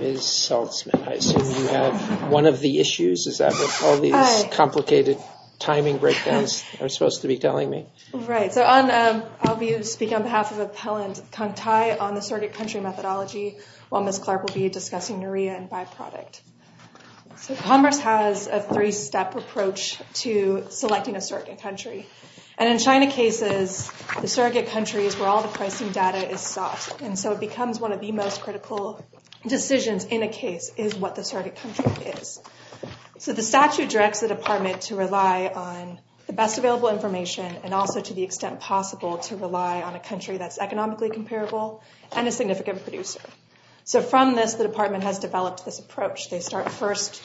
Ms. Saltzman, I assume you have one of the issues, is that what all these complicated timing breakdowns are supposed to be telling me? Right. So I'll be speaking on behalf of Appellant Kantai on the surrogate country methodology while Ms. Clark will be discussing NREA and byproduct. Commerce has a three-step approach to selecting a surrogate country, and in China cases, the surrogate country is where all the pricing data is sought, and so it becomes one of the most critical decisions in a case is what the surrogate country is. So the statute directs the department to rely on the best available information and also to the extent possible to rely on a country that's economically comparable and a significant producer. So from this, the department has developed this approach. They start first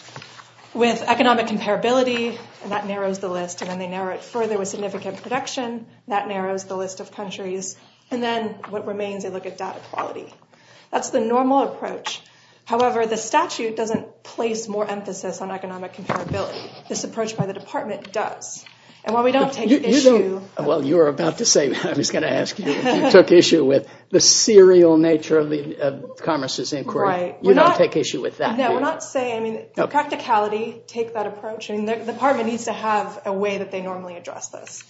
with economic comparability, and that narrows the list, and then they narrow it further with significant production, and that narrows the list of countries, and then what remains, they look at data quality. That's the normal approach. However, the statute doesn't place more emphasis on economic comparability. This approach by the department does. And while we don't take issue— You don't—well, you were about to say—I was going to ask you if you took issue with the serial nature of the Commerce's inquiry. Right. You don't take issue with that, do you? No, we're not saying—I mean, the practicality, take that approach, and the department needs to have a way that they normally address this.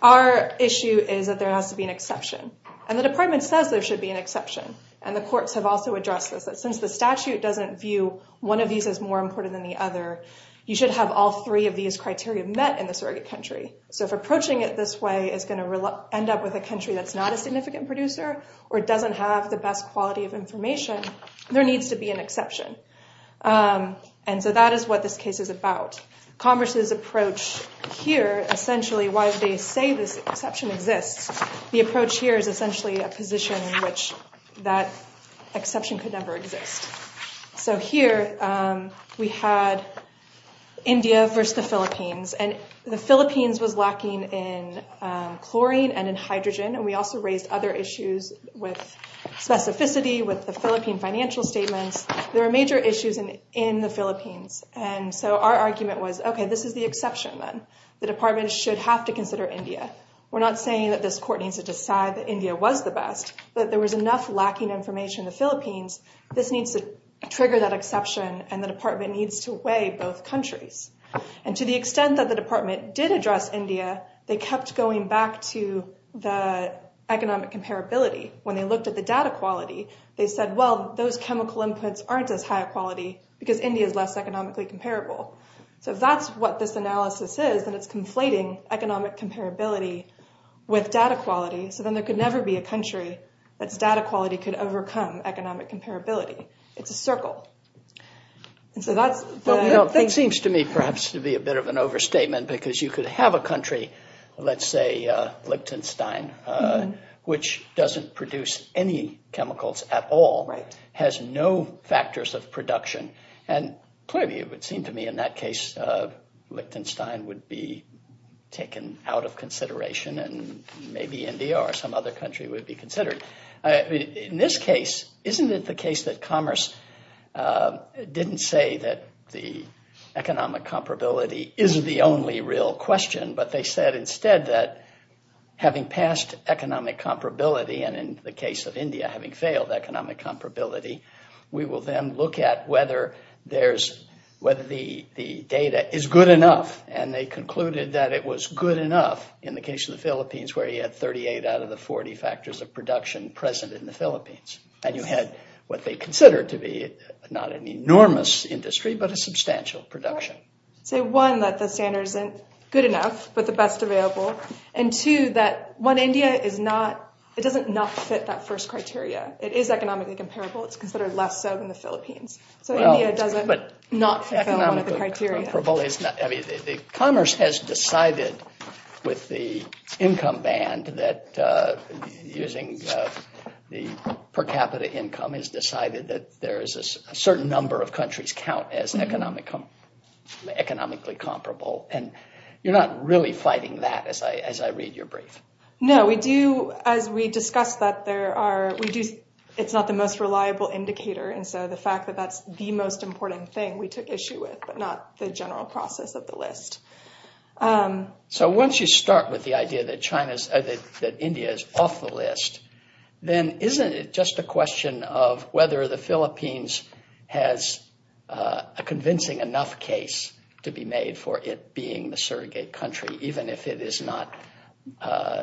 Our issue is that there has to be an exception, and the department says there should be an exception, and the courts have also addressed this, that since the statute doesn't view one of these as more important than the other, you should have all three of these criteria met in the surrogate country. So if approaching it this way is going to end up with a country that's not a significant producer or doesn't have the best quality of information, there needs to be an exception. And so that is what this case is about. Commerce's approach here, essentially, while they say this exception exists, the approach here is essentially a position in which that exception could never exist. So here, we had India versus the Philippines, and the Philippines was lacking in chlorine and in hydrogen, and we also raised other issues with specificity, with the Philippine financial statements. There are major issues in the Philippines. And so our argument was, okay, this is the exception, then. The department should have to consider India. We're not saying that this court needs to decide that India was the best, but there was enough lacking information in the Philippines. This needs to trigger that exception, and the department needs to weigh both countries. And to the extent that the department did address India, they kept going back to the economic comparability. When they looked at the data quality, they said, well, those chemical inputs aren't as high quality because India is less economically comparable. So if that's what this analysis is, then it's conflating economic comparability with data quality, so then there could never be a country that's data quality could overcome economic comparability. It's a circle. And so that's the thing. It seems to me perhaps to be a bit of an overstatement because you could have a country, let's say Lichtenstein, which doesn't produce any chemicals at all, has no factors of production. And clearly it would seem to me in that case, Lichtenstein would be taken out of consideration and maybe India or some other country would be considered. In this case, isn't it the case that commerce didn't say that the economic comparability is the only real question, but they said instead that having passed economic comparability and in the case of India having failed economic comparability, we will then look at whether the data is good enough. And they concluded that it was good enough in the case of the Philippines where you had 38 out of the 40 factors of production present in the Philippines. And you had what they considered to be not an enormous industry, but a substantial production. So one, that the standard isn't good enough, but the best available. And two, that one, India is not, it doesn't not fit that first criteria. It is economically comparable. It's considered less so than the Philippines. So India doesn't not fill one of the criteria. Commerce has decided with the income band that using the per capita income has decided that there is a certain number of countries count as economically comparable. And you're not really fighting that as I read your brief. No, we do. As we discussed that, it's not the most reliable indicator. And so the fact that that's the most important thing we took issue with, but not the general process of the list. So once you start with the idea that China's, that India is off the list, then isn't it just a question of whether the Philippines has a convincing enough case to be made for it being the surrogate country, even if it is not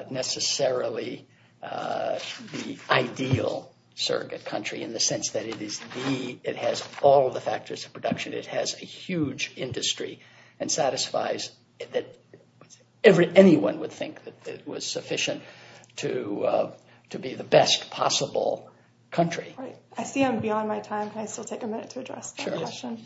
necessarily the ideal surrogate country in the sense that it is the, it has all of the factors of production, it has a huge industry and satisfies that anyone would think that it was sufficient to be the best possible country. Right. I see I'm beyond my time. Can I still take a minute to address the question?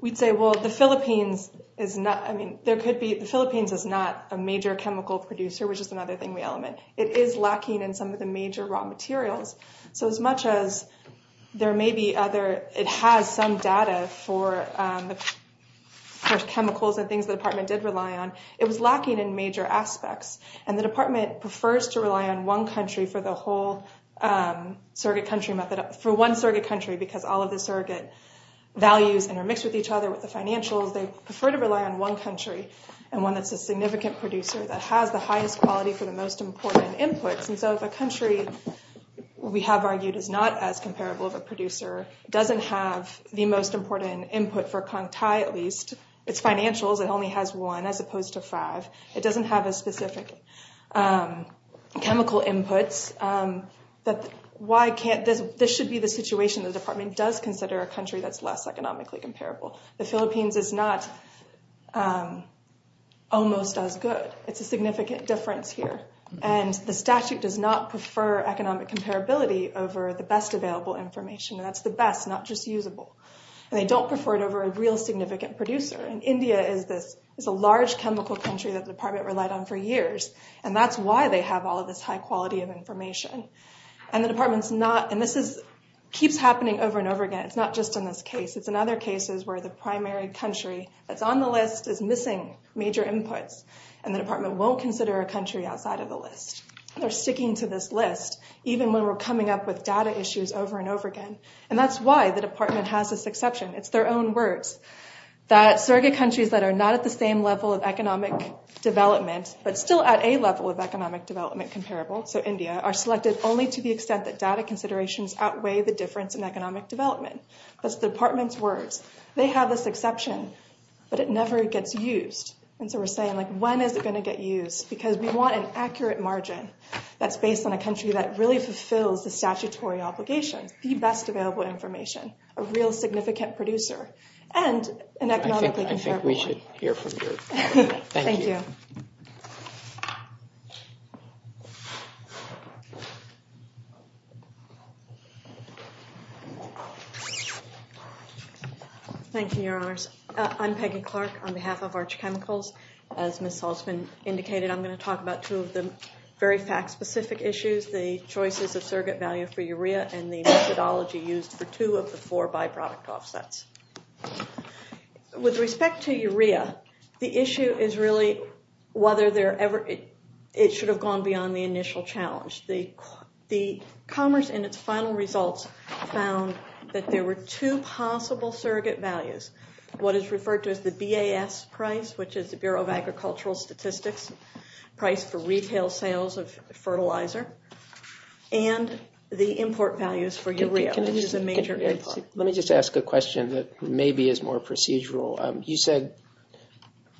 We'd say, well, the Philippines is not, I mean, there could be, the Philippines is not a major chemical producer, which is another thing we element. It is lacking in some of the major raw materials. So as much as there may be other, it has some data for chemicals and things the department did rely on, it was lacking in major aspects. And the department prefers to rely on one country for the whole surrogate country method, for one surrogate country, because all of the surrogate values intermix with each other with the financials. They prefer to rely on one country and one that's a significant producer that has the most important inputs. And so if a country we have argued is not as comparable of a producer, doesn't have the most important input for Kong Tai at least, it's financials, it only has one as opposed to five. It doesn't have a specific chemical inputs that, why can't this, this should be the situation the department does consider a country that's less economically comparable. The Philippines is not almost as good. It's a significant difference here. And the statute does not prefer economic comparability over the best available information. That's the best, not just usable. And they don't prefer it over a real significant producer. And India is this, is a large chemical country that the department relied on for years. And that's why they have all of this high quality of information. And the department's not, and this is, keeps happening over and over again. It's not just in this case. It's in other cases where the primary country that's on the list is missing major inputs. And the department won't consider a country outside of the list. They're sticking to this list, even when we're coming up with data issues over and over again. And that's why the department has this exception. It's their own words that surrogate countries that are not at the same level of economic development, but still at a level of economic development comparable, so India, are selected only to the extent that data considerations outweigh the difference in economic development. That's the department's words. They have this exception, but it never gets used. And so we're saying, like, when is it going to get used? Because we want an accurate margin that's based on a country that really fulfills the statutory obligations, the best available information, a real significant producer, and an economically comparable one. I think we should hear from you. Thank you. Thank you, Your Honors. I'm Peggy Clark on behalf of Arch Chemicals. As Ms. Haltzman indicated, I'm going to talk about two of the very fact-specific issues, the choices of surrogate value for urea and the methodology used for two of the four byproduct offsets. With respect to urea, the issue is really whether it should have gone beyond the initial challenge. The Commerce, in its final results, found that there were two possible surrogate values, what is referred to as the BAS price, which is the Bureau of Agricultural Statistics price for retail sales of fertilizer, and the import values for urea, which is a major import. Let me just ask a question that maybe is more procedural. You said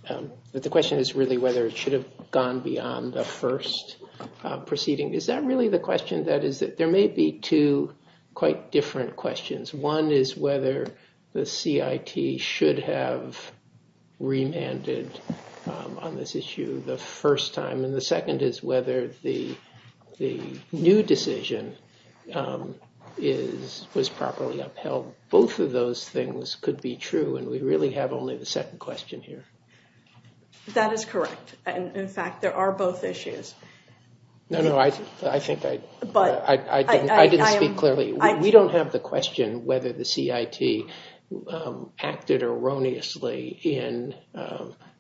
that the question is really whether it should have gone beyond the first proceeding. Is that really the question? There may be two quite different questions. One is whether the CIT should have remanded on this issue the first time, and the second is whether the new decision was properly upheld. Both of those things could be true, and we really have only the second question here. That is correct. In fact, there are both issues. No, no, I think I didn't speak clearly. We don't have the question whether the CIT acted erroneously in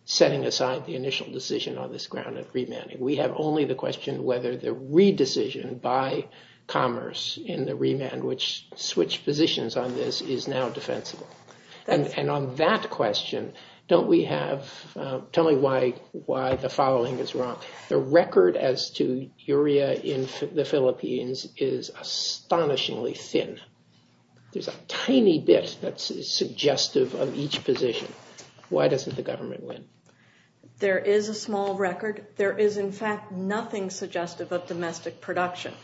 setting aside the initial decision on this ground of remanding. We have only the question whether the re-decision by Commerce in the remand, which switched positions on this, is now defensible. And on that question, don't we have – tell me why the following is wrong. The record as to urea in the Philippines is astonishingly thin. There's a tiny bit that's suggestive of each position. Why doesn't the government win? There is a small record. There is, in fact, nothing suggestive of domestic production.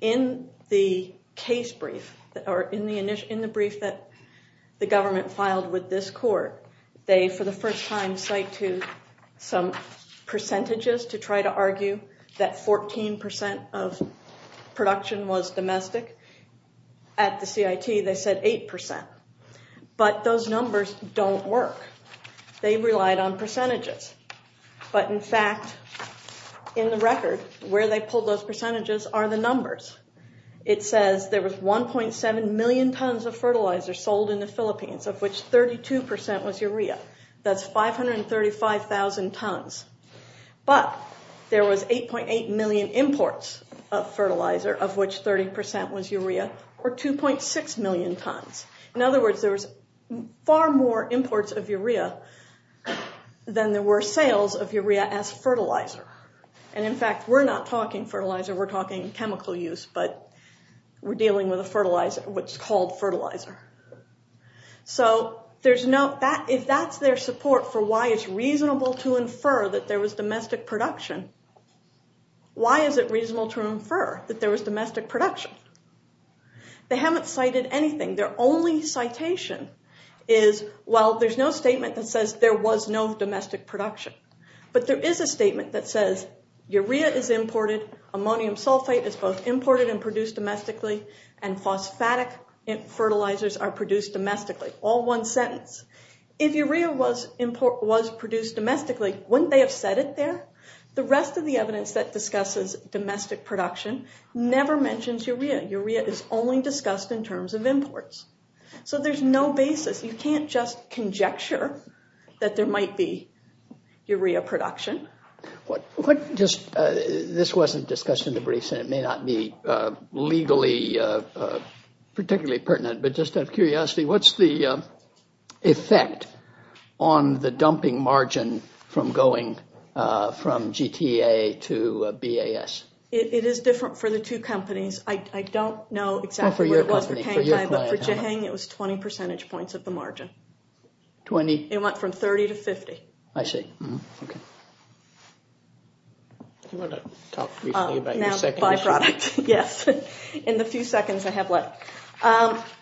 In the case brief, or in the brief that the government filed with this court, they for the first time cite to some percentages to try to argue that 14 percent of production was domestic. At the CIT, they said 8 percent. But those numbers don't work. They relied on percentages. But in fact, in the record, where they pulled those percentages are the numbers. It says there was 1.7 million tons of fertilizer sold in the Philippines, of which 32 percent was urea. That's 535,000 tons. But there was 8.8 million imports of fertilizer, of which 30 percent was urea, or 2.6 million tons. In other words, there was far more imports of urea than there were sales of urea as fertilizer. And in fact, we're not talking fertilizer, we're talking chemical use, but we're dealing with a fertilizer, which is called fertilizer. So if that's their support for why it's reasonable to infer that there was domestic production, why is it reasonable to infer that there was domestic production? They haven't cited anything. Their only citation is, well, there's no statement that says there was no domestic production. But there is a statement that says urea is imported, ammonium sulfate is both imported and produced domestically, and phosphatic fertilizers are produced domestically. All one sentence. If urea was produced domestically, wouldn't they have said it there? The rest of the evidence that discusses domestic production never mentions urea. Urea is only discussed in terms of imports. So there's no basis. You can't just conjecture that there might be urea production. This wasn't discussed in the briefs, and it may not be legally particularly pertinent, but just out of curiosity, what's the effect on the dumping margin from going from GTA to BAS? It is different for the two companies. I don't know exactly what it was for Cang Thai, but for Jehang, it was 20 percentage points of the margin. 20? It went from 30 to 50. I see. Mm-hmm. OK. You want to talk briefly about your second issue? Now byproduct, yes. In the few seconds I have left.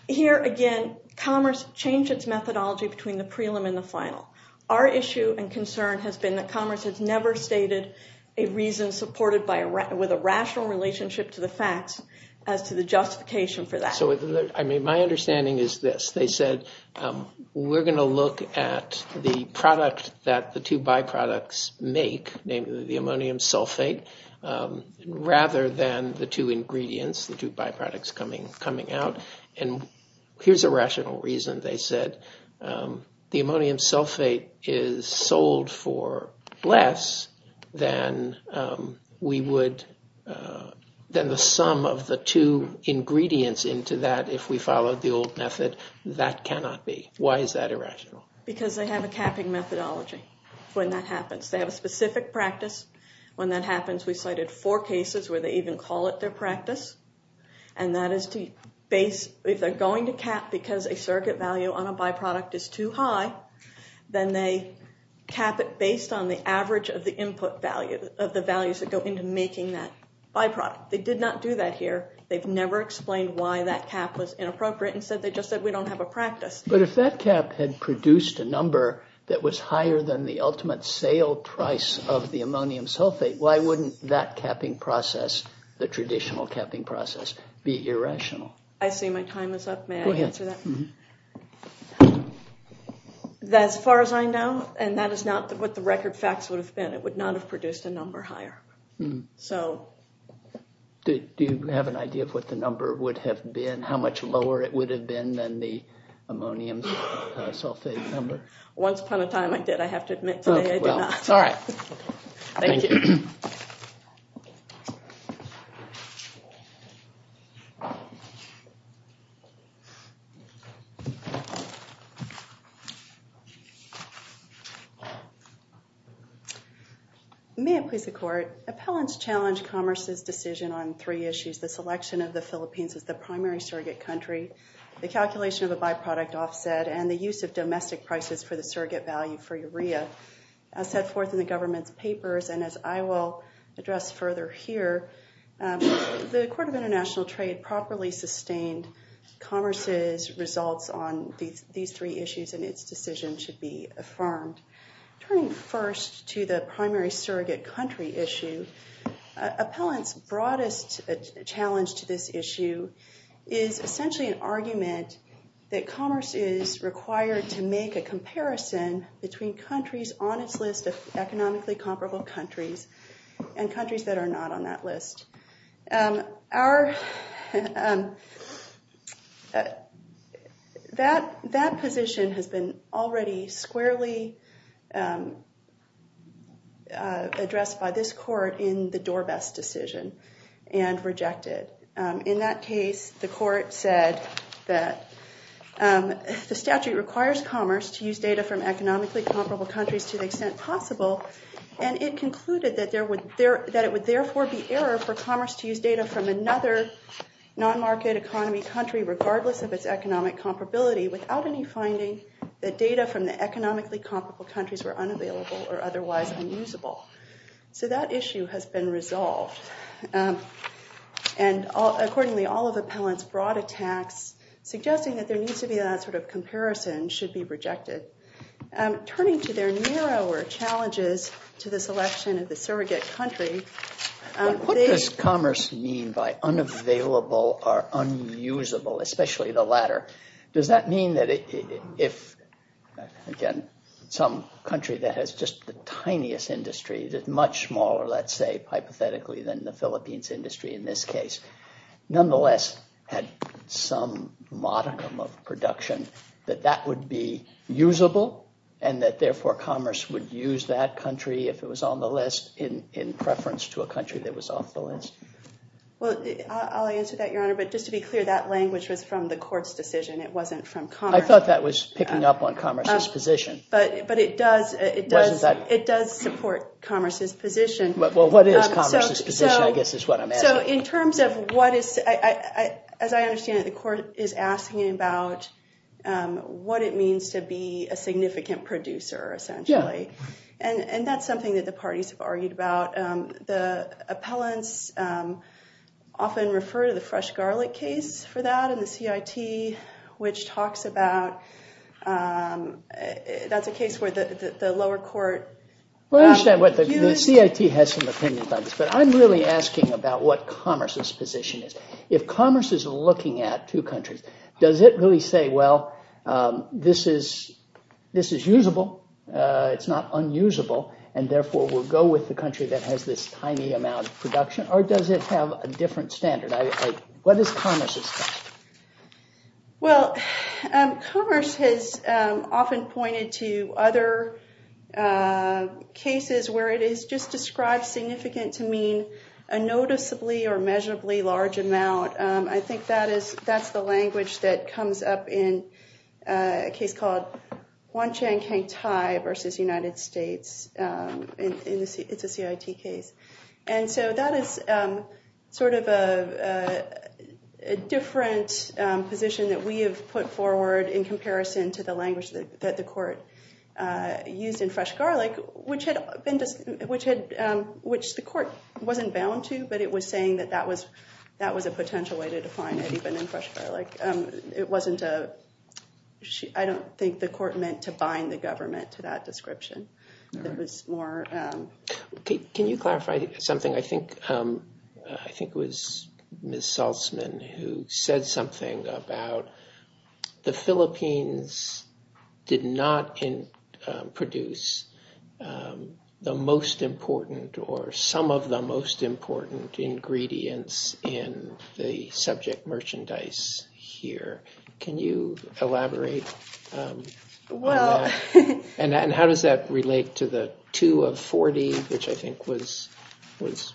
Here again, Commerce changed its methodology between the prelim and the final. Our issue and concern has been that Commerce has never stated a reason supported with a rational relationship to the facts as to the justification for that. So my understanding is this. They said, we're going to look at the product that the two byproducts make, namely the ammonium sulfate, rather than the two ingredients, the two byproducts coming out. And here's a rational reason. They said the ammonium sulfate is sold for less than the sum of the two ingredients into that if we followed the old method. That cannot be. Why is that irrational? Because they have a capping methodology when that happens. They have a specific practice when that happens. We cited four cases where they even call it their practice. And that is to base, if they're going to cap because a circuit value on a byproduct is too high, then they cap it based on the average of the input value of the values that go into making that byproduct. They did not do that here. They've never explained why that cap was inappropriate. Instead, they just said, we don't have a practice. But if that cap had produced a number that was higher than the ultimate sale price of the ammonium sulfate, why wouldn't that capping process, the traditional capping process, be irrational? I see my time is up. May I answer that? Go ahead. As far as I know, and that is not what the record facts would have been, it would not have produced a number higher. So do you have an idea of what the number would have been, how much lower it would have been than the ammonium sulfate number? Once upon a time, I did. I have to admit today, I did not. All right. Thank you. May it please the court. Appellants challenged Commerce's decision on three issues, the selection of the Philippines as the primary surrogate country, the calculation of a byproduct offset, and the use of domestic prices for the surrogate value for urea, as set forth in the government's papers. And as I will address further here, the Court of International Trade properly sustained Commerce's results on these three issues, and its decision should be affirmed. Turning first to the primary surrogate country issue, appellants' broadest challenge to this issue is essentially an argument that Commerce is required to make a comparison between countries on its list of economically comparable countries and countries that are not on that list. That position has been already squarely addressed by this court in the Dorbess decision and rejected. In that case, the court said that the statute requires Commerce to use data from economically comparable countries to the extent possible. And it concluded that it would therefore be error for Commerce to use data from another non-market economy country, regardless of its economic comparability, without any finding that data from the economically comparable countries were unavailable or otherwise unusable. So that issue has been resolved. And accordingly, all of appellants' broad attacks suggesting that there needs to be that sort of comparison should be rejected. Turning to their narrower challenges to this election of the surrogate country, they- What does Commerce mean by unavailable or unusable, especially the latter? Does that mean that if, again, some country that has just the tiniest industry, that's much smaller, let's say, hypothetically, than the Philippines industry in this case, nonetheless had some modicum of production, that that would be usable? And that, therefore, Commerce would use that country, if it was on the list, in preference to a country that was off the list? Well, I'll answer that, Your Honor. But just to be clear, that language was from the court's decision. It wasn't from Commerce. I thought that was picking up on Commerce's position. But it does support Commerce's position. Well, what is Commerce's position, I guess, is what I'm asking. So in terms of what is, as I understand it, the court is asking about what it means to be a significant producer, essentially. And that's something that the parties have argued about. The appellants often refer to the fresh garlic case for that, and the CIT, which talks about that's a case where the lower court- Well, I understand what the CIT has some opinions on this. But I'm really asking about what Commerce's position is. If Commerce is looking at two countries, does it really say, well, this is usable. It's not unusable. And therefore, we'll go with the country that has this tiny amount of production? Or does it have a different standard? What is Commerce's standard? Well, Commerce has often pointed to other cases where it is just described significant to mean a noticeably or measurably large amount. I think that's the language that comes up in a case called Huan-Chang Kang Thai versus United States. It's a CIT case. And so that is sort of a different position that we have put forward in comparison to the language that the court used in fresh garlic, which the court wasn't bound to. But it was saying that that was a potential way to define it, even in fresh garlic. It wasn't a- I don't think the court meant to bind the government to that description. It was more- Can you clarify something? I think it was Ms. Saltzman who said something about the Philippines did not produce the most important or some of the most important ingredients in the subject merchandise here. Can you elaborate on that? And how does that relate to the 2 of 40, which I think was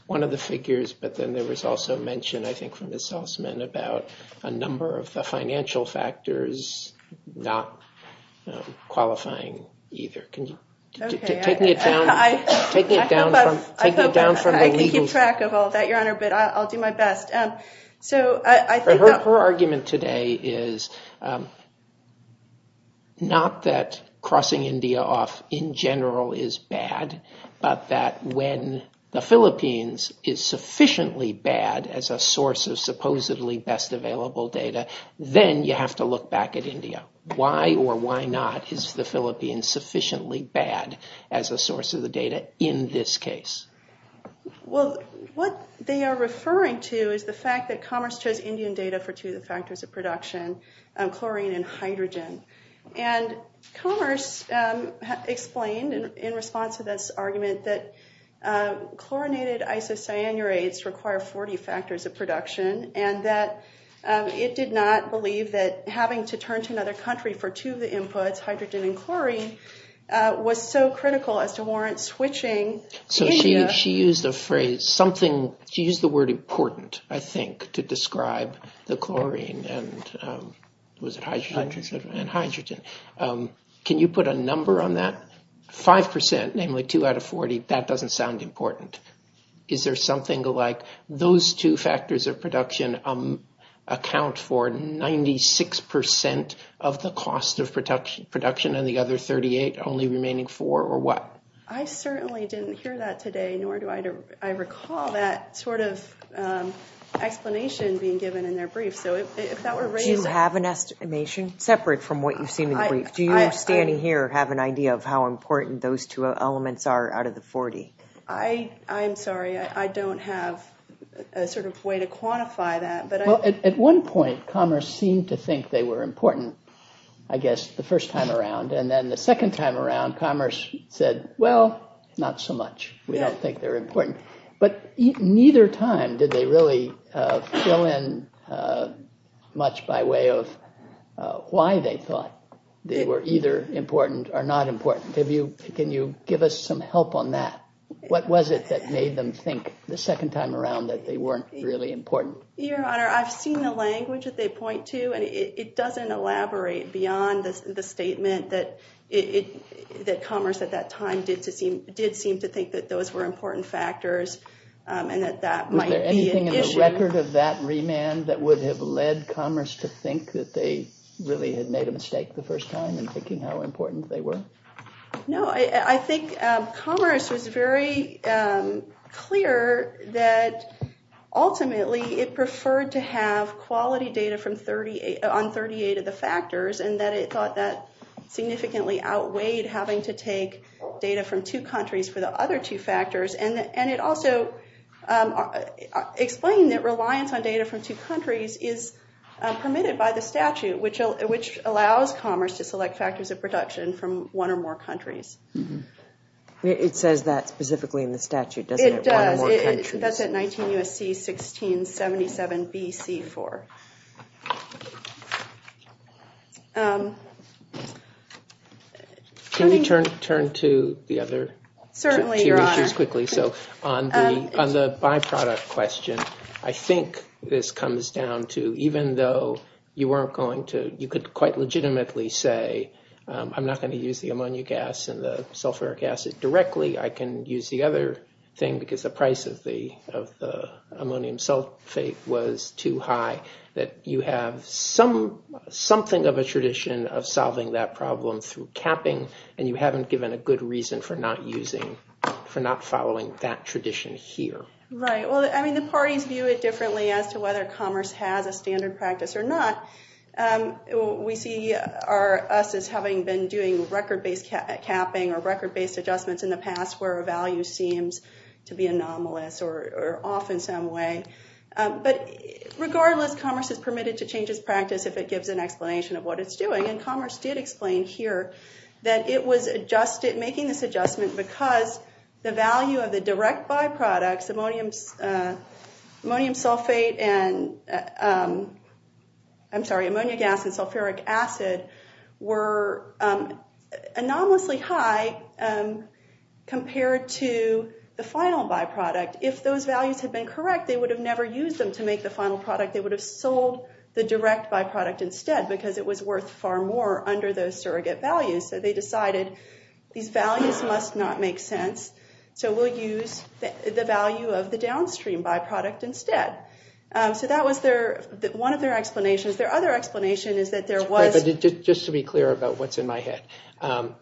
one of the figures. But then there was also mention, I think, from Ms. Saltzman about a number of the financial factors not qualifying either. Can you take me down from there? I can keep track of all that, Your Honor, but I'll do my best. So I think that- Her argument today is not that crossing India off in general is bad, but that when the Philippines is sufficiently bad as a source of supposedly best available data, then you have to look back at India. Why or why not is the Philippines sufficiently bad as a source of the data in this case? Well, what they are referring to is the fact that Commerce chose Indian data for two of the factors of production, chlorine and hydrogen. And Commerce explained, in response to this argument, that chlorinated isocyanurates require 40 factors of production, and that it did not believe that having to turn to another country for two of the inputs, hydrogen and chlorine, was so critical as to warrant switching India- So she used a phrase, something, she used the word important, I think, to describe the chlorine and, was it hydrogen? Hydrogen. And hydrogen. Can you put a number on that? 5%, namely 2 out of 40, that doesn't sound important. Is there something like those two factors of production account for 96% of the cost of production and the other 38 only remaining four or what? I certainly didn't hear that today, nor do I recall that sort of explanation being given in their brief. So if that were raised- Do you have an estimation separate from what you've seen in the brief? Do you standing here have an idea of how important those two elements are out of the 40? I'm sorry, I don't have a sort of way to quantify that, but I- Well, at one point, commerce seemed to think they were important, I guess, the first time around. And then the second time around, commerce said, well, not so much. We don't think they're important. But neither time did they really fill in much by way of why they thought they were either important or not important. Can you give us some help on that? What was it that made them think the second time around that they weren't really important? Your Honor, I've seen the language that they point to, and it doesn't elaborate beyond the statement that commerce at that time did seem to think that those were important factors and that that might be an issue. Was there anything in the record of that remand that would have led commerce to think that they really had made a mistake the first time in thinking how important they were? No, I think commerce was very clear that, ultimately, it preferred to have quality data on 38 of the factors and that it thought that significantly outweighed having to take data from two countries for the other two factors. And it also explained that reliance on data from two countries is permitted by the statute, which allows commerce to select factors of production from one or more countries. It says that specifically in the statute, doesn't it? It does. That's at 19 U.S.C. 1677 B.C. 4. Can you turn to the other two issues quickly? So on the byproduct question, I think this comes down to, even though you could quite legitimately say, I'm not going to use the ammonia gas and the sulfuric acid directly. I can use the other thing because the price of the ammonium sulfate was too high, that you have something of a tradition of solving that problem through capping. And you haven't given a good reason for not following that tradition here. Right, well, I mean, the parties view it differently as to whether commerce has a standard practice or not. We see us as having been doing record-based capping or record-based adjustments in the past where a value seems to be anomalous or off in some way. But regardless, commerce is permitted to change its practice if it gives an explanation of what it's doing. And commerce did explain here that it was making this adjustment because the value of the direct byproducts, ammonium sulfate and, I'm sorry, ammonia gas and sulfuric acid, were anomalously high compared to the final byproduct. If those values had been correct, they would have never used them to make the final product. They would have sold the direct byproduct instead because it was worth far more under those surrogate values. So they decided these values must not make sense. So we'll use the value of the downstream byproduct instead. So that was one of their explanations. Their other explanation is that there was- Just to be clear about what's in my head,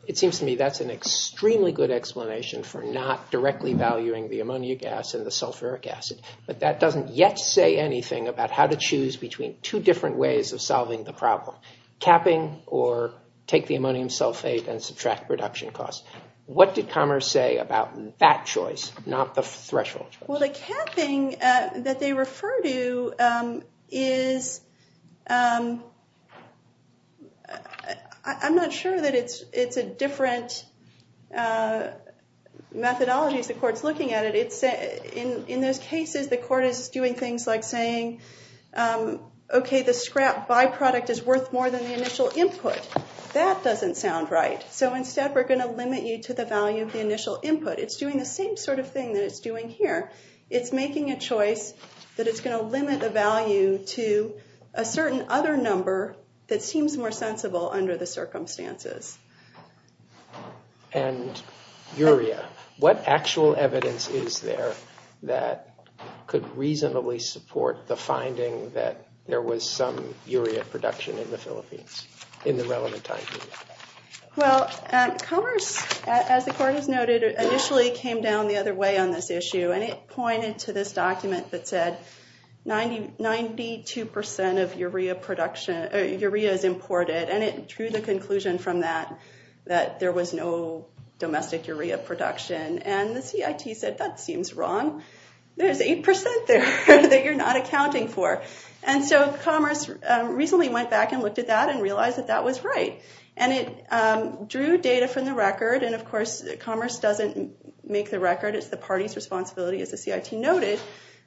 it seems to me that's an extremely good explanation for not directly valuing the ammonium gas and the sulfuric acid. But that doesn't yet say anything about how to choose between two different ways of solving the problem. Capping or take the ammonium sulfate and subtract production costs. What did commerce say about that choice, not the threshold choice? Well, the capping that they refer to is- I'm not sure that it's a different methodology as the court's looking at it. In those cases, the court is doing things like saying, OK, the scrap byproduct is worth more than the initial input. That doesn't sound right. So instead, we're going to limit you to the value of the initial input. It's doing the same sort of thing that it's doing here. It's making a choice that it's going to limit the value to a certain other number that seems more sensible under the circumstances. And Yuria, what actual evidence is there that could reasonably support the finding that there was some Yuria production in the Philippines in the relevant time period? Well, commerce, as the court has noted, initially came down the other way on this issue. And it pointed to this document that said 92% of Yuria is imported. And it drew the conclusion from that that there was no domestic Yuria production. And the CIT said, that seems wrong. There's 8% there that you're not accounting for. And so commerce recently went back and looked at that and realized that that was right. And it drew data from the record. And of course, commerce doesn't make the record. It's the party's responsibility, as the CIT noted.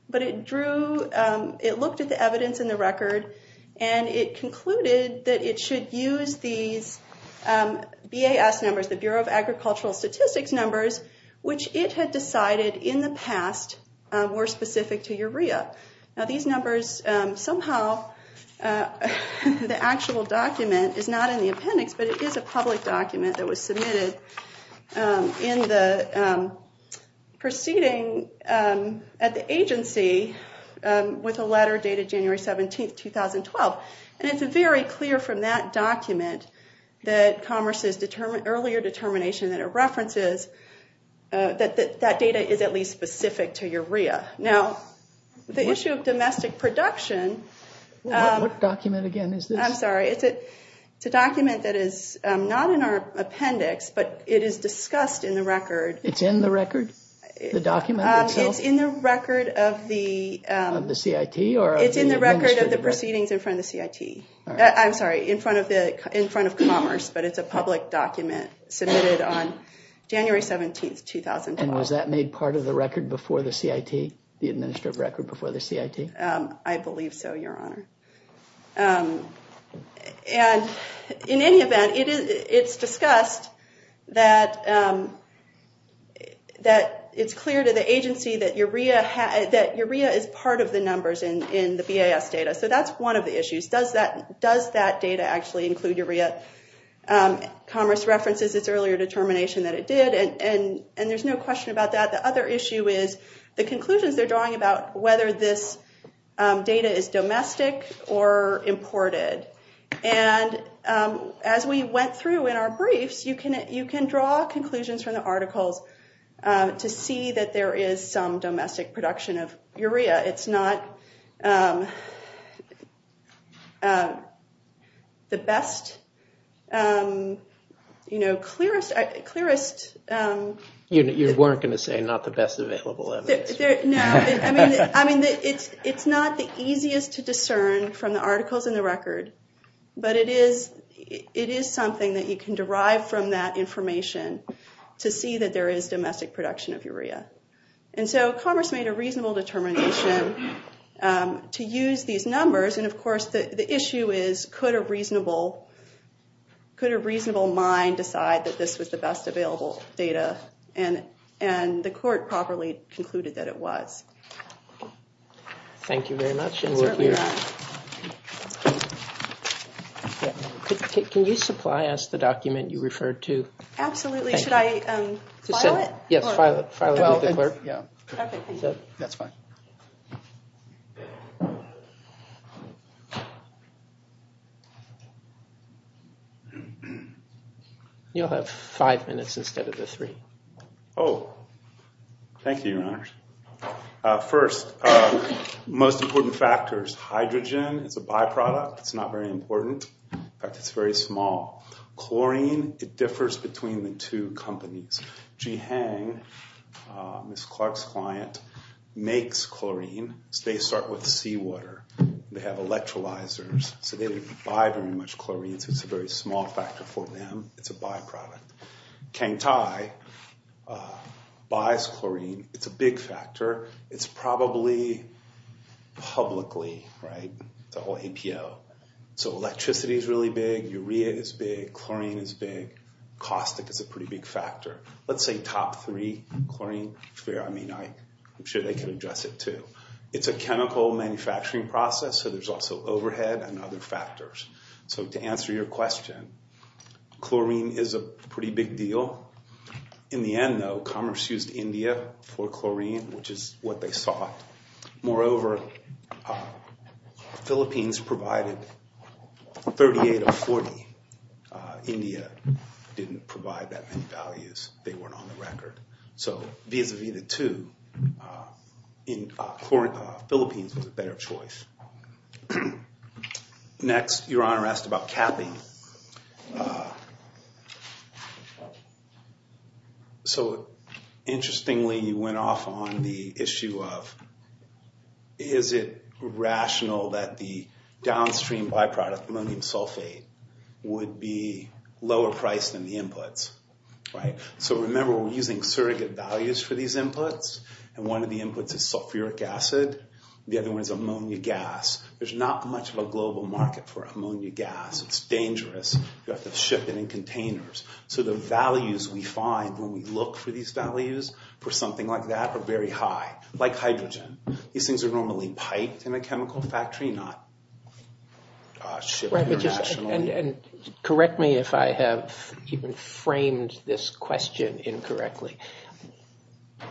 But it looked at the evidence in the record. And it concluded that it should use these BAS numbers, the Bureau of Agricultural Statistics numbers, which it had decided in the past were specific to Yuria. Now, these numbers, somehow, the actual document is not in the appendix. But it is a public document that was submitted in the proceeding at the agency with a letter dated January 17, 2012. And it's very clear from that document that commerce's earlier determination that it references that that data is at least specific to Yuria. Now, the issue of domestic production. What document, again, is this? I'm sorry. It's a document that is not in our appendix. But it is discussed in the record. It's in the record, the document itself? It's in the record of the proceedings in front of the CIT. I'm sorry, in front of commerce. But it's a public document submitted on January 17, 2012. And was that made part of the record before the CIT, the administrative record before the CIT? I believe so, Your Honor. And in any event, it's discussed that it's clear to the agency that Yuria is part of the numbers in the BAS data. So that's one of the issues. Does that data actually include Yuria? Commerce references its earlier determination that it did. And there's no question about that. The other issue is the conclusions they're drawing about whether this data is domestic or imported. And as we went through in our briefs, you can draw conclusions from the articles to see that there is some domestic production of Yuria. It's not the best, clearest. You weren't going to say not the best available evidence. No. I mean, it's not the easiest to discern from the articles in the record. But it is something that you can derive from that information to see that there is domestic production of Yuria. And so Commerce made a reasonable determination to use these numbers. And of course, the issue is, could a reasonable mind decide that this was the best available data? And the court properly concluded that it was. Thank you very much. And we're here. Can you supply us the document you referred to? Absolutely. Should I file it? Yes, file it with the court. Yeah, that's fine. You'll have five minutes instead of the three. Oh, thank you, Your Honors. First, most important factors. Hydrogen is a byproduct. It's not very important. In fact, it's very small. Chlorine, it differs between the two companies. Ji Hang, Ms. Clark's client, makes chlorine. They start with seawater. They have electrolyzers. So they didn't buy very much chlorine. So it's a very small factor for them. It's a byproduct. Kang Tai buys chlorine. It's a big factor. It's probably publicly, right, the whole APO. So electricity is really big. Urea is big. Chlorine is big. Caustic is a pretty big factor. Let's say top three, chlorine, urea. I mean, I'm sure they can address it, too. It's a chemical manufacturing process. So there's also overhead and other factors. So to answer your question, chlorine is a pretty big deal. In the end, though, Commerce used India for chlorine, which is what they sought. Moreover, the Philippines provided 38 of 40. India didn't provide that many values. They weren't on the record. So vis-a-vis the two, Philippines was a better choice. Next, Your Honor asked about capping. So interestingly, you went off on the issue of, is it rational that the downstream byproduct, ammonium sulfate, would be lower priced than the inputs? So remember, we're using surrogate values for these inputs. And one of the inputs is sulfuric acid. The other one is ammonia gas. There's not much of a global market for ammonia gas. It's dangerous. You have to ship it in containers. So the values we find when we look for these values for something like that are very high, like hydrogen. These things are normally piped in a chemical factory, not shipped internationally. And correct me if I have even framed this question incorrectly.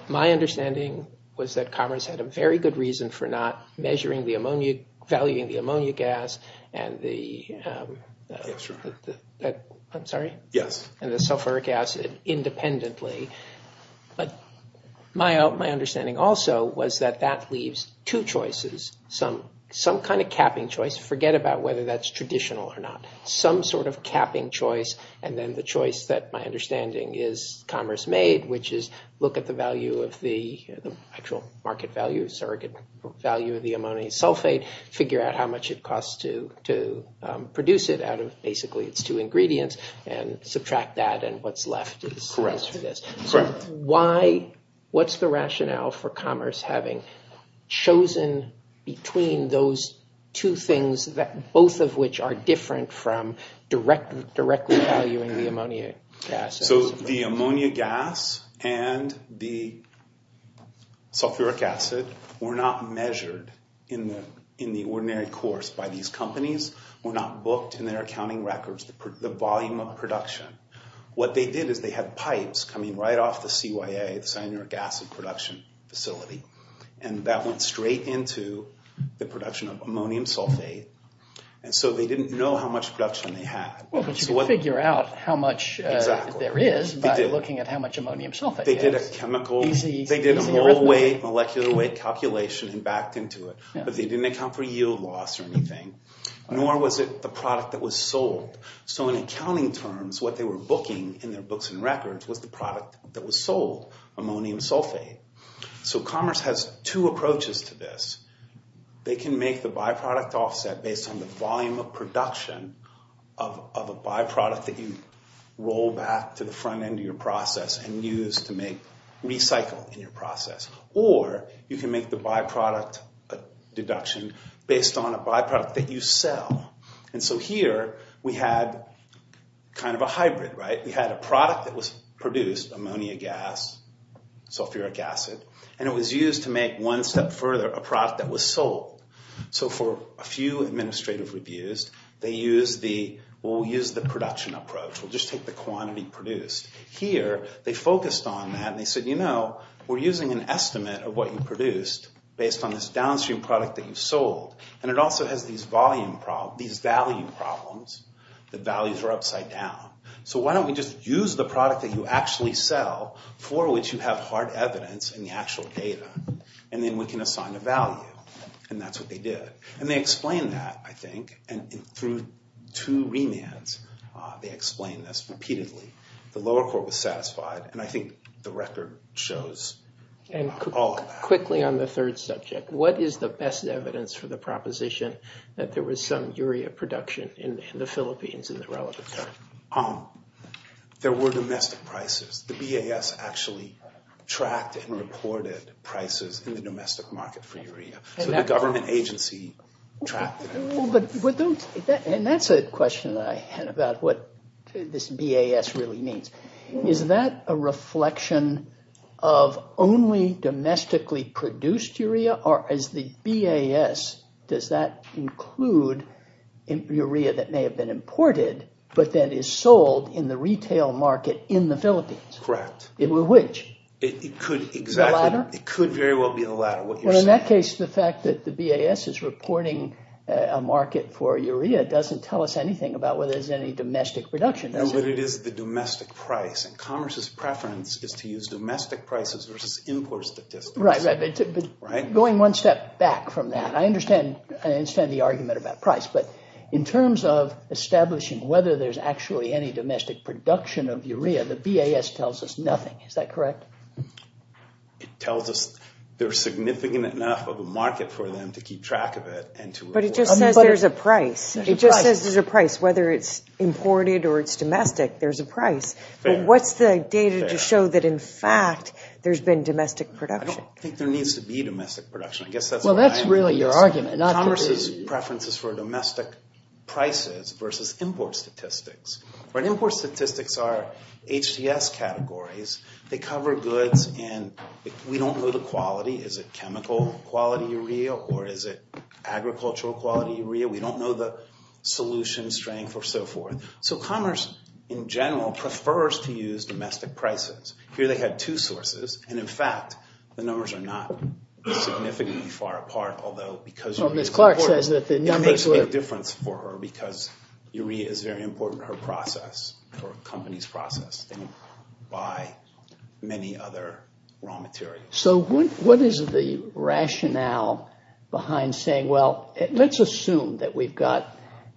My understanding was that Commerce had a very good reason for not measuring the ammonia, valuing the ammonia gas and the sulfuric acid independently. But my understanding also was that that leaves two choices, some kind of capping choice. Forget about whether that's traditional or not. Some sort of capping choice. And then the choice that my understanding is Commerce made, which is look at the actual market value, surrogate value of the ammonia sulfate, figure out how much it costs to produce it out of basically its two ingredients, and subtract that. And what's left is this. So what's the rationale for Commerce having chosen between those two things, both of which are different from directly valuing the ammonia gas? So the ammonia gas and the sulfuric acid were not measured in the ordinary course by these companies, were not booked in their accounting records, the volume of production. What they did is they had pipes coming right off the CYA, the cyanuric acid production facility. And that went straight into the production of ammonium sulfate. And so they didn't know how much production they had. But you can figure out how much there is by looking at how much ammonium sulfate there is. They did a mole weight, molecular weight calculation, and backed into it. But they didn't account for yield loss or anything, nor was it the product that was sold. So in accounting terms, what they were booking in their books and records was the product that was sold, ammonium sulfate. So Commerce has two approaches to this. They can make the byproduct offset based on the volume of production of a byproduct that you roll back to the front end of your process and use to make recycle in your process. Or you can make the byproduct deduction based on a byproduct that you sell. And so here, we had kind of a hybrid, right? We had a product that was produced, ammonia gas, sulfuric acid. And it was used to make one step further a product that was sold. So for a few administrative reviews, we'll use the production approach. We'll just take the quantity produced. Here, they focused on that. And they said, you know, we're using an estimate of what you produced based on this downstream product that you sold. And it also has these value problems. The values are upside down. So why don't we just use the product that you actually sell for which you have hard evidence in the actual data? And then we can assign a value. And that's what they did. And they explained that, I think. And through two remands, they explained this repeatedly. The lower court was satisfied. And I think the record shows all of that. Quickly on the third subject, what is the best evidence for the proposition that there was some urea production in the Philippines There were domestic prices. The BAS actually tracked and reported prices in the domestic market for urea. So the government agency tracked it. And that's a question that I had about what this BAS really means. Is that a reflection of only domestically produced urea? Or is the BAS, does that include urea that may have been imported, but then is sold in the retail market in the Philippines? Correct. Which? It could exactly. It could very well be the latter. What you're saying. Well, in that case, the fact that the BAS is reporting a market for urea doesn't tell us anything about whether there's any domestic production. No, but it is the domestic price. And commerce's preference is to use domestic prices versus import statistics. Right, but going one step back from that, I understand the argument about price. But in terms of establishing whether there's actually any domestic production of urea, the BAS tells us nothing. Is that correct? It tells us there's significant enough of a market for them to keep track of it and to import. But it just says there's a price. It just says there's a price. Whether it's imported or it's domestic, there's a price. But what's the data to show that, in fact, there's been domestic production? I don't think there needs to be domestic production. I guess that's my argument. Well, that's really your argument, not the BAS. Commerce's preference is for domestic prices versus import statistics. Right, import statistics are HDS categories. They cover goods. And we don't know the quality. Is it chemical quality urea? Or is it agricultural quality urea? We don't know the solution strength or so forth. So commerce, in general, prefers to use domestic prices. Here, they had two sources. And in fact, the numbers are not significantly far apart. Although, because urea is important, it makes a difference for her because urea is very important to her process or a company's process. By many other raw materials. So what is the rationale behind saying, well, let's assume that we've got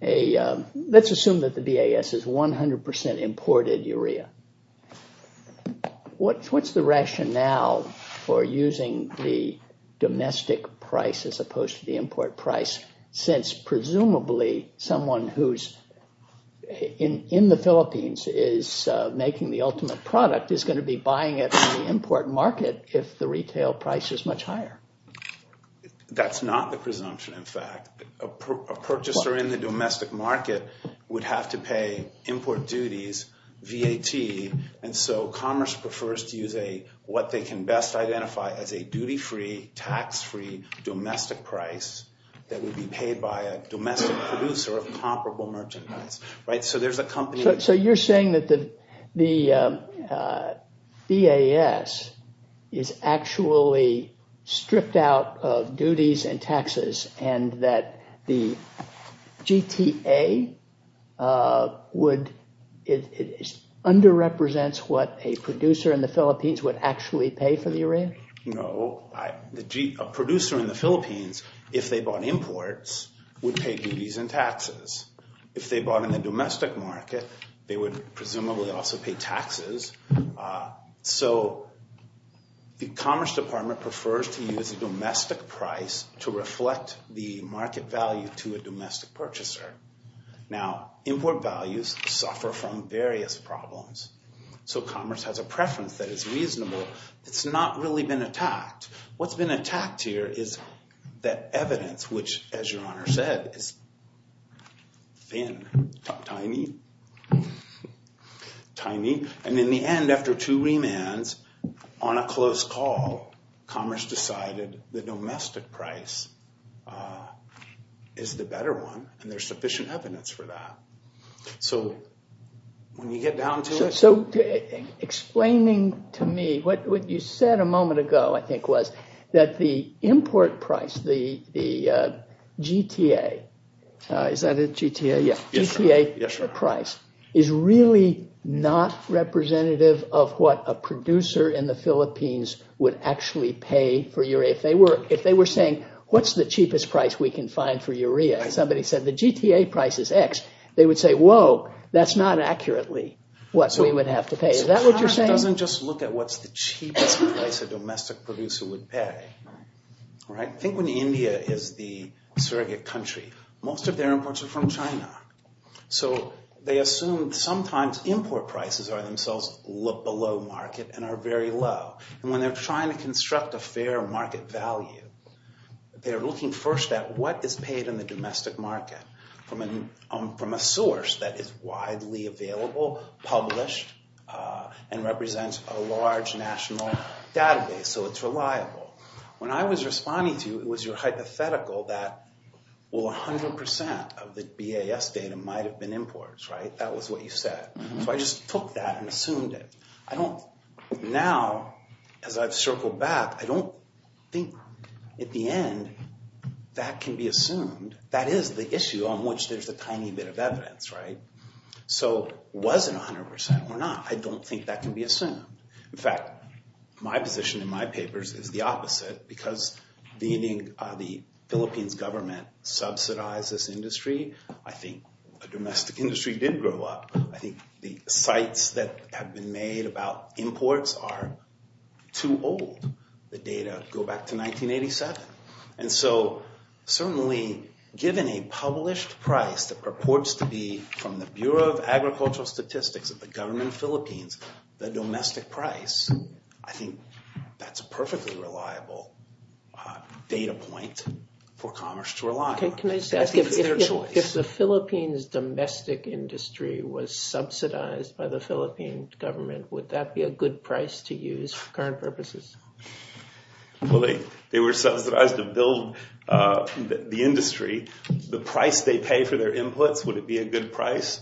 a, let's assume that the BAS is 100% imported urea. What's the rationale for using the domestic price as opposed to the import price? Since, presumably, someone who's in the Philippines is making the ultimate product is going to be buying it in the import market if the retail price is much higher. That's not the presumption, in fact. A purchaser in the domestic market would have to pay import duties, VAT. And so commerce prefers to use what they can best identify as a duty-free, tax-free domestic price that would be paid by a domestic producer of comparable merchandise. So there's a company that's saying that the BAS is actually stripped out of duties and taxes and that the GTA would, it under-represents what a producer in the Philippines would actually pay for the urea? No, a producer in the Philippines, if they bought imports, would pay duties and taxes. If they bought in the domestic market, they would, presumably, also pay taxes. So the Commerce Department prefers to use a domestic price to reflect the market value to a domestic purchaser. Now, import values suffer from various problems. So commerce has a preference that is reasonable. It's not really been attacked. What's been attacked here is that evidence, which, as your honor said, is thin, tiny, tiny. And in the end, after two remands, on a close call, commerce decided the domestic price is the better one. And there's sufficient evidence for that. So when you get down to it. So explaining to me what you said a moment ago, I think, was that the import price, the GTA, is that it, GTA? Yeah, GTA price is really not representative of what a producer in the Philippines would actually pay for urea. If they were saying, what's the cheapest price we can find for urea? Somebody said the GTA price is X. They would say, whoa, that's not accurately what we would have to pay. Is that what you're saying? So commerce doesn't just look at what's the cheapest price a domestic producer would pay. Think when India is the surrogate country. Most of their imports are from China. So they assume sometimes import prices are themselves look below market and are very low. And when they're trying to construct a fair market value, they're looking first at what is paid in the domestic market from a source that is widely available, published, and represents a large national database. So it's reliable. When I was responding to you, it was your hypothetical that, well, 100% of the BAS data might have been imports, right? That was what you said. So I just took that and assumed it. Now, as I've circled back, I don't think at the end that can be assumed. That is the issue on which there's a tiny bit of evidence, right? So was it 100% or not, I don't think that can be assumed. In fact, my position in my papers is the opposite, because the Philippines government subsidized this industry. I think a domestic industry did grow up. I think the cites that have been made about imports are too old. The data go back to 1987. And so certainly, given a published price that purports to be, from the Bureau of Agricultural Statistics of the government of Philippines, the domestic price, I think that's a perfectly reliable data point for commerce to rely on. Can I just ask, if the Philippines domestic industry was subsidized by the Philippine government, would that be a good price to use for current purposes? Well, they were subsidized to build the industry. The price they pay for their inputs, would it be a good price?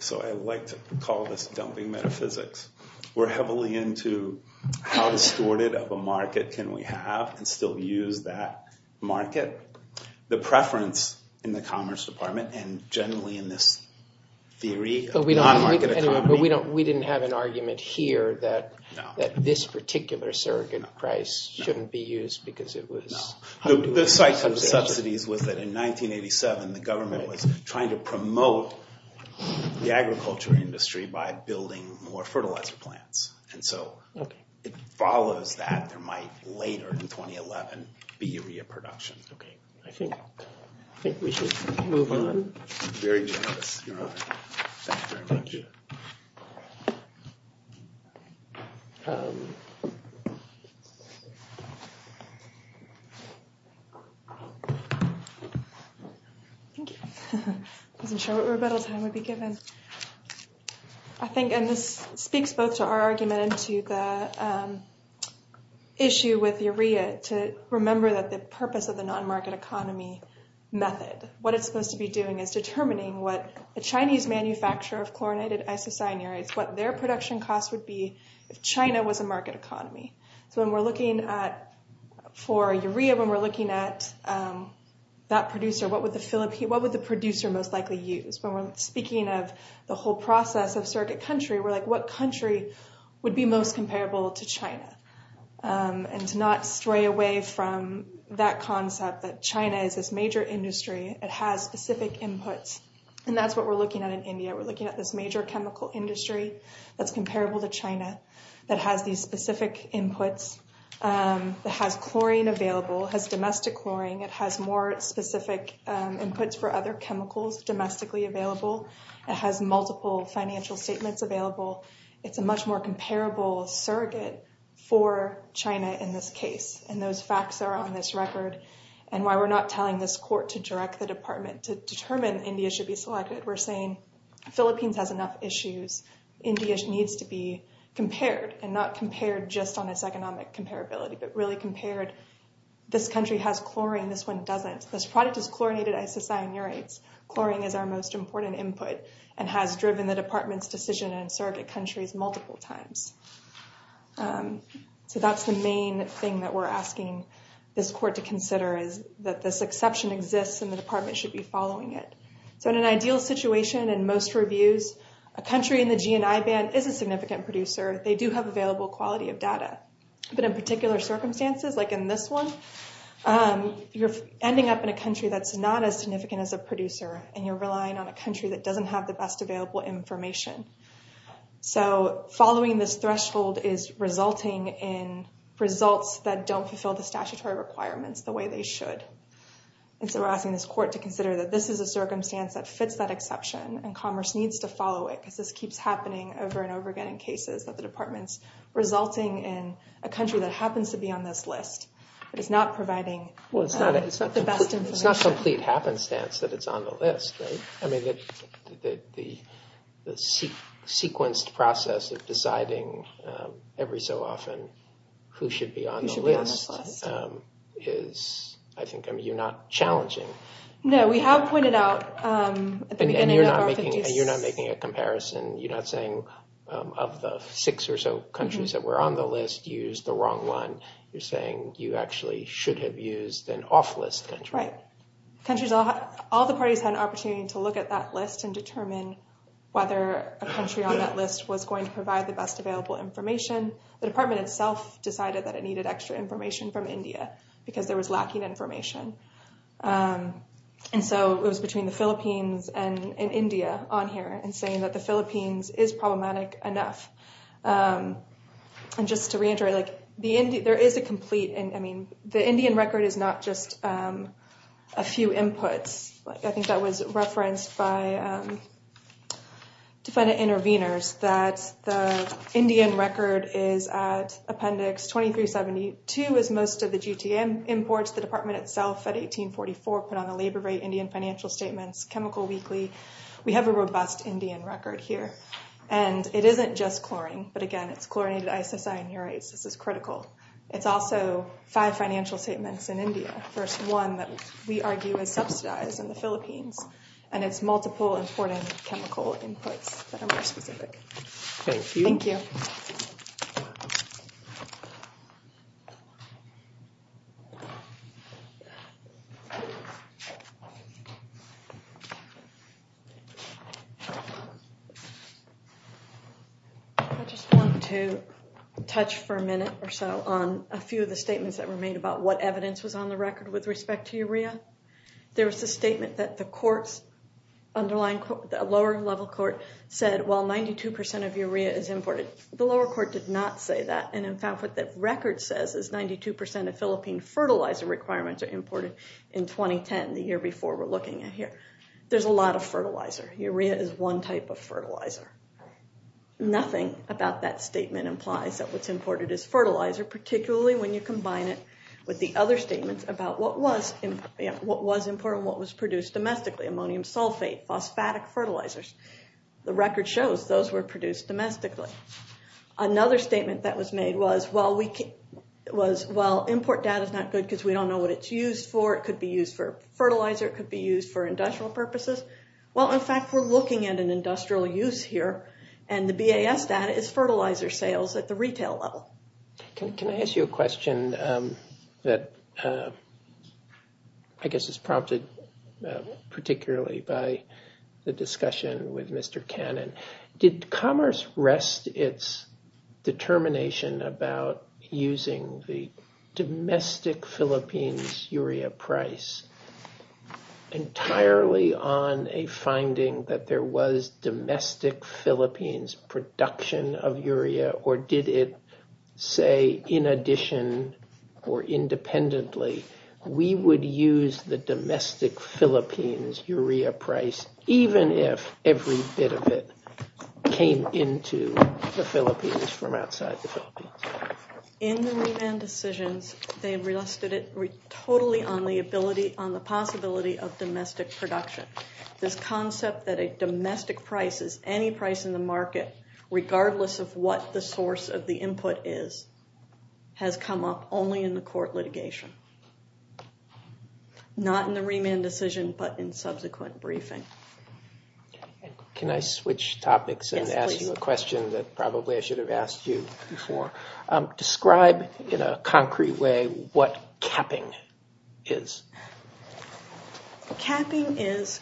So I like to call this dumping metaphysics. We're heavily into how distorted of a market can we have and still use that market. The preference in the Commerce Department, and generally in this theory of non-market economy. We didn't have an argument here that this particular surrogate price shouldn't be used because it was. The site for the subsidies was that in 1987, the government was trying to promote the agriculture industry by building more fertilizer plants. And so it follows that there might later, in 2011, be a reproduction. I think we should move on. Very generous, Your Honor. Thank you very much. Thank you. Thank you. I wasn't sure what rebuttal time would be given. And this speaks both to our argument and to the issue with urea, to remember that the purpose of the non-market economy method, what it's supposed to be doing is determining what a Chinese manufacturer of chlorinated isocyanides, what their production costs would be if China was a market economy. So when we're looking for urea, when we're looking at that producer, what would the producer most likely use? When we're speaking of the whole process of surrogate country, we're like, what country would be most comparable to China? And to not stray away from that concept that China is this major industry. It has specific inputs. And that's what we're looking at in India. We're looking at this major chemical industry that's specific inputs, that has chlorine available, has domestic chlorine. It has more specific inputs for other chemicals domestically available. It has multiple financial statements available. It's a much more comparable surrogate for China in this case. And those facts are on this record. And why we're not telling this court to direct the department to determine India should be selected, we're saying Philippines has enough issues. India needs to be compared. And not compared just on its economic comparability, but really compared. This country has chlorine. This one doesn't. This product is chlorinated isocyanurates. Chlorine is our most important input and has driven the department's decision in surrogate countries multiple times. So that's the main thing that we're asking this court to consider is that this exception exists and the department should be following it. So in an ideal situation in most reviews, a country in the GNI band is a significant producer. They do have available quality of data. But in particular circumstances, like in this one, you're ending up in a country that's not as significant as a producer. And you're relying on a country that doesn't have the best available information. So following this threshold is resulting in results that don't fulfill the statutory requirements the way they should. And so we're asking this court to consider that this is a circumstance that fits that exception. And commerce needs to follow it because this keeps happening over and over again in cases that the department's resulting in a country that happens to be on this list, but it's not providing the best information. It's not complete happenstance that it's on the list, right? I mean, the sequenced process of deciding every so often who should be on the list is, I think, No, we have pointed out at the beginning of the court. And you're not making a comparison. You're not saying of the six or so countries that were on the list, use the wrong one. You're saying you actually should have used an off-list country. Right. All the parties had an opportunity to look at that list and determine whether a country on that list was going to provide the best available information. The department itself decided that it needed extra information from India because there was lacking information. And so it was between the Philippines and India on here and saying that the Philippines is problematic enough. And just to re-enter it, there is a complete, I mean, the Indian record is not just a few inputs. I think that was referenced by defendant intervenors that the Indian record is at appendix 2372, is most of the GTM imports. The department itself at 1844 put on a labor rate Indian financial statements, chemical weekly. We have a robust Indian record here. And it isn't just chlorine. But again, it's chlorinated isocyanurase. This is critical. It's also five financial statements in India. First one that we argue is subsidized in the Philippines. that are more specific. Thank you. Thank you. Thank you. I just want to touch for a minute or so on a few of the statements that were made about what evidence was on the record with respect to urea. There was a statement that the lower level court said, well, 92% of urea is imported. The lower court did not say that. And in fact, what the record says is 92% of Philippine fertilizer requirements are imported in 2010, the year before we're looking at here. There's a lot of fertilizer. Urea is one type of fertilizer. Nothing about that statement implies that what's imported is fertilizer, particularly when you combine it with the other statements about what was imported, what was produced domestically, ammonium sulfate, phosphatic fertilizers. The record shows those were produced domestically. Another statement that was made was, well, import data is not good because we don't know what it's used for. It could be used for fertilizer. It could be used for industrial purposes. Well, in fact, we're looking at an industrial use here. And the BAS data is fertilizer sales at the retail level. Can I ask you a question that I guess is prompted particularly by the discussion with Mr. Cannon? Did commerce rest its determination about using the domestic Philippines urea price entirely on a finding that there was domestic Philippines production of urea? Or did it say, in addition or independently, we would use the domestic Philippines urea price, even if every bit of it came into the Philippines from outside the Philippines? In the remand decisions, they rested it totally on the possibility of domestic production. This concept that a domestic price is any price in the market, regardless of what the source of the input is, has come up only in the court litigation. Not in the remand decision, but in subsequent briefing. Can I switch topics and ask you a question that probably I should have asked you before? Describe in a concrete way what capping is. Capping is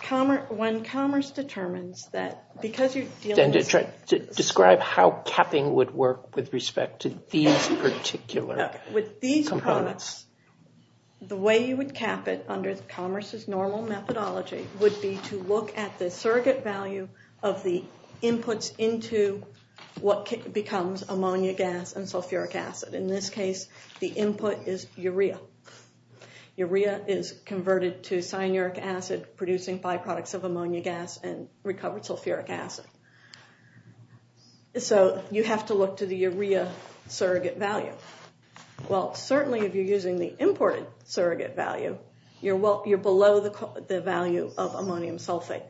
when commerce determines that because you're dealing with Describe how capping would work with respect to these particular components. The way you would cap it under commerce's normal methodology would be to look at the surrogate value of the inputs into what becomes ammonia gas and sulfuric acid. In this case, the input is urea. Urea is converted to cyanuric acid, producing byproducts of ammonia gas and recovered sulfuric acid. So you have to look to the urea surrogate value. Well, certainly if you're using the imported surrogate value, you're below the value of ammonium sulfate.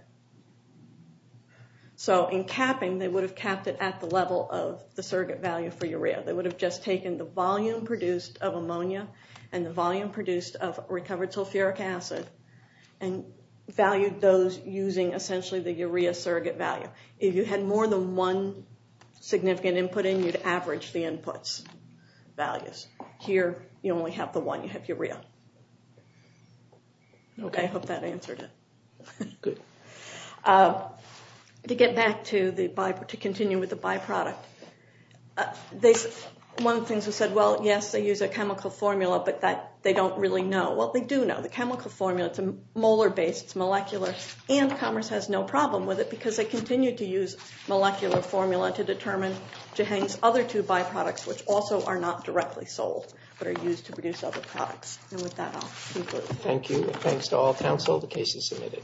So in capping, they would have capped it at the level of the surrogate value for urea. They would have just taken the volume produced of ammonia and the volume produced of recovered sulfuric acid and valued those using, essentially, the urea surrogate value. If you had more than one significant input in, you'd average the input's values. Here, you only have the one. You have urea. OK, I hope that answered it. Good. To get back to continue with the byproduct, one of the things we said, well, yes, they use a chemical formula, but they don't really know. Well, they do know. The chemical formula, it's a molar base. It's molecular. And commerce has no problem with it, because they continue to use molecular formula to determine Jehang's other two byproducts, which also are not directly sold, but are used to produce other products. And with that, I'll conclude. Thank you, and thanks to all counsel. The case is submitted.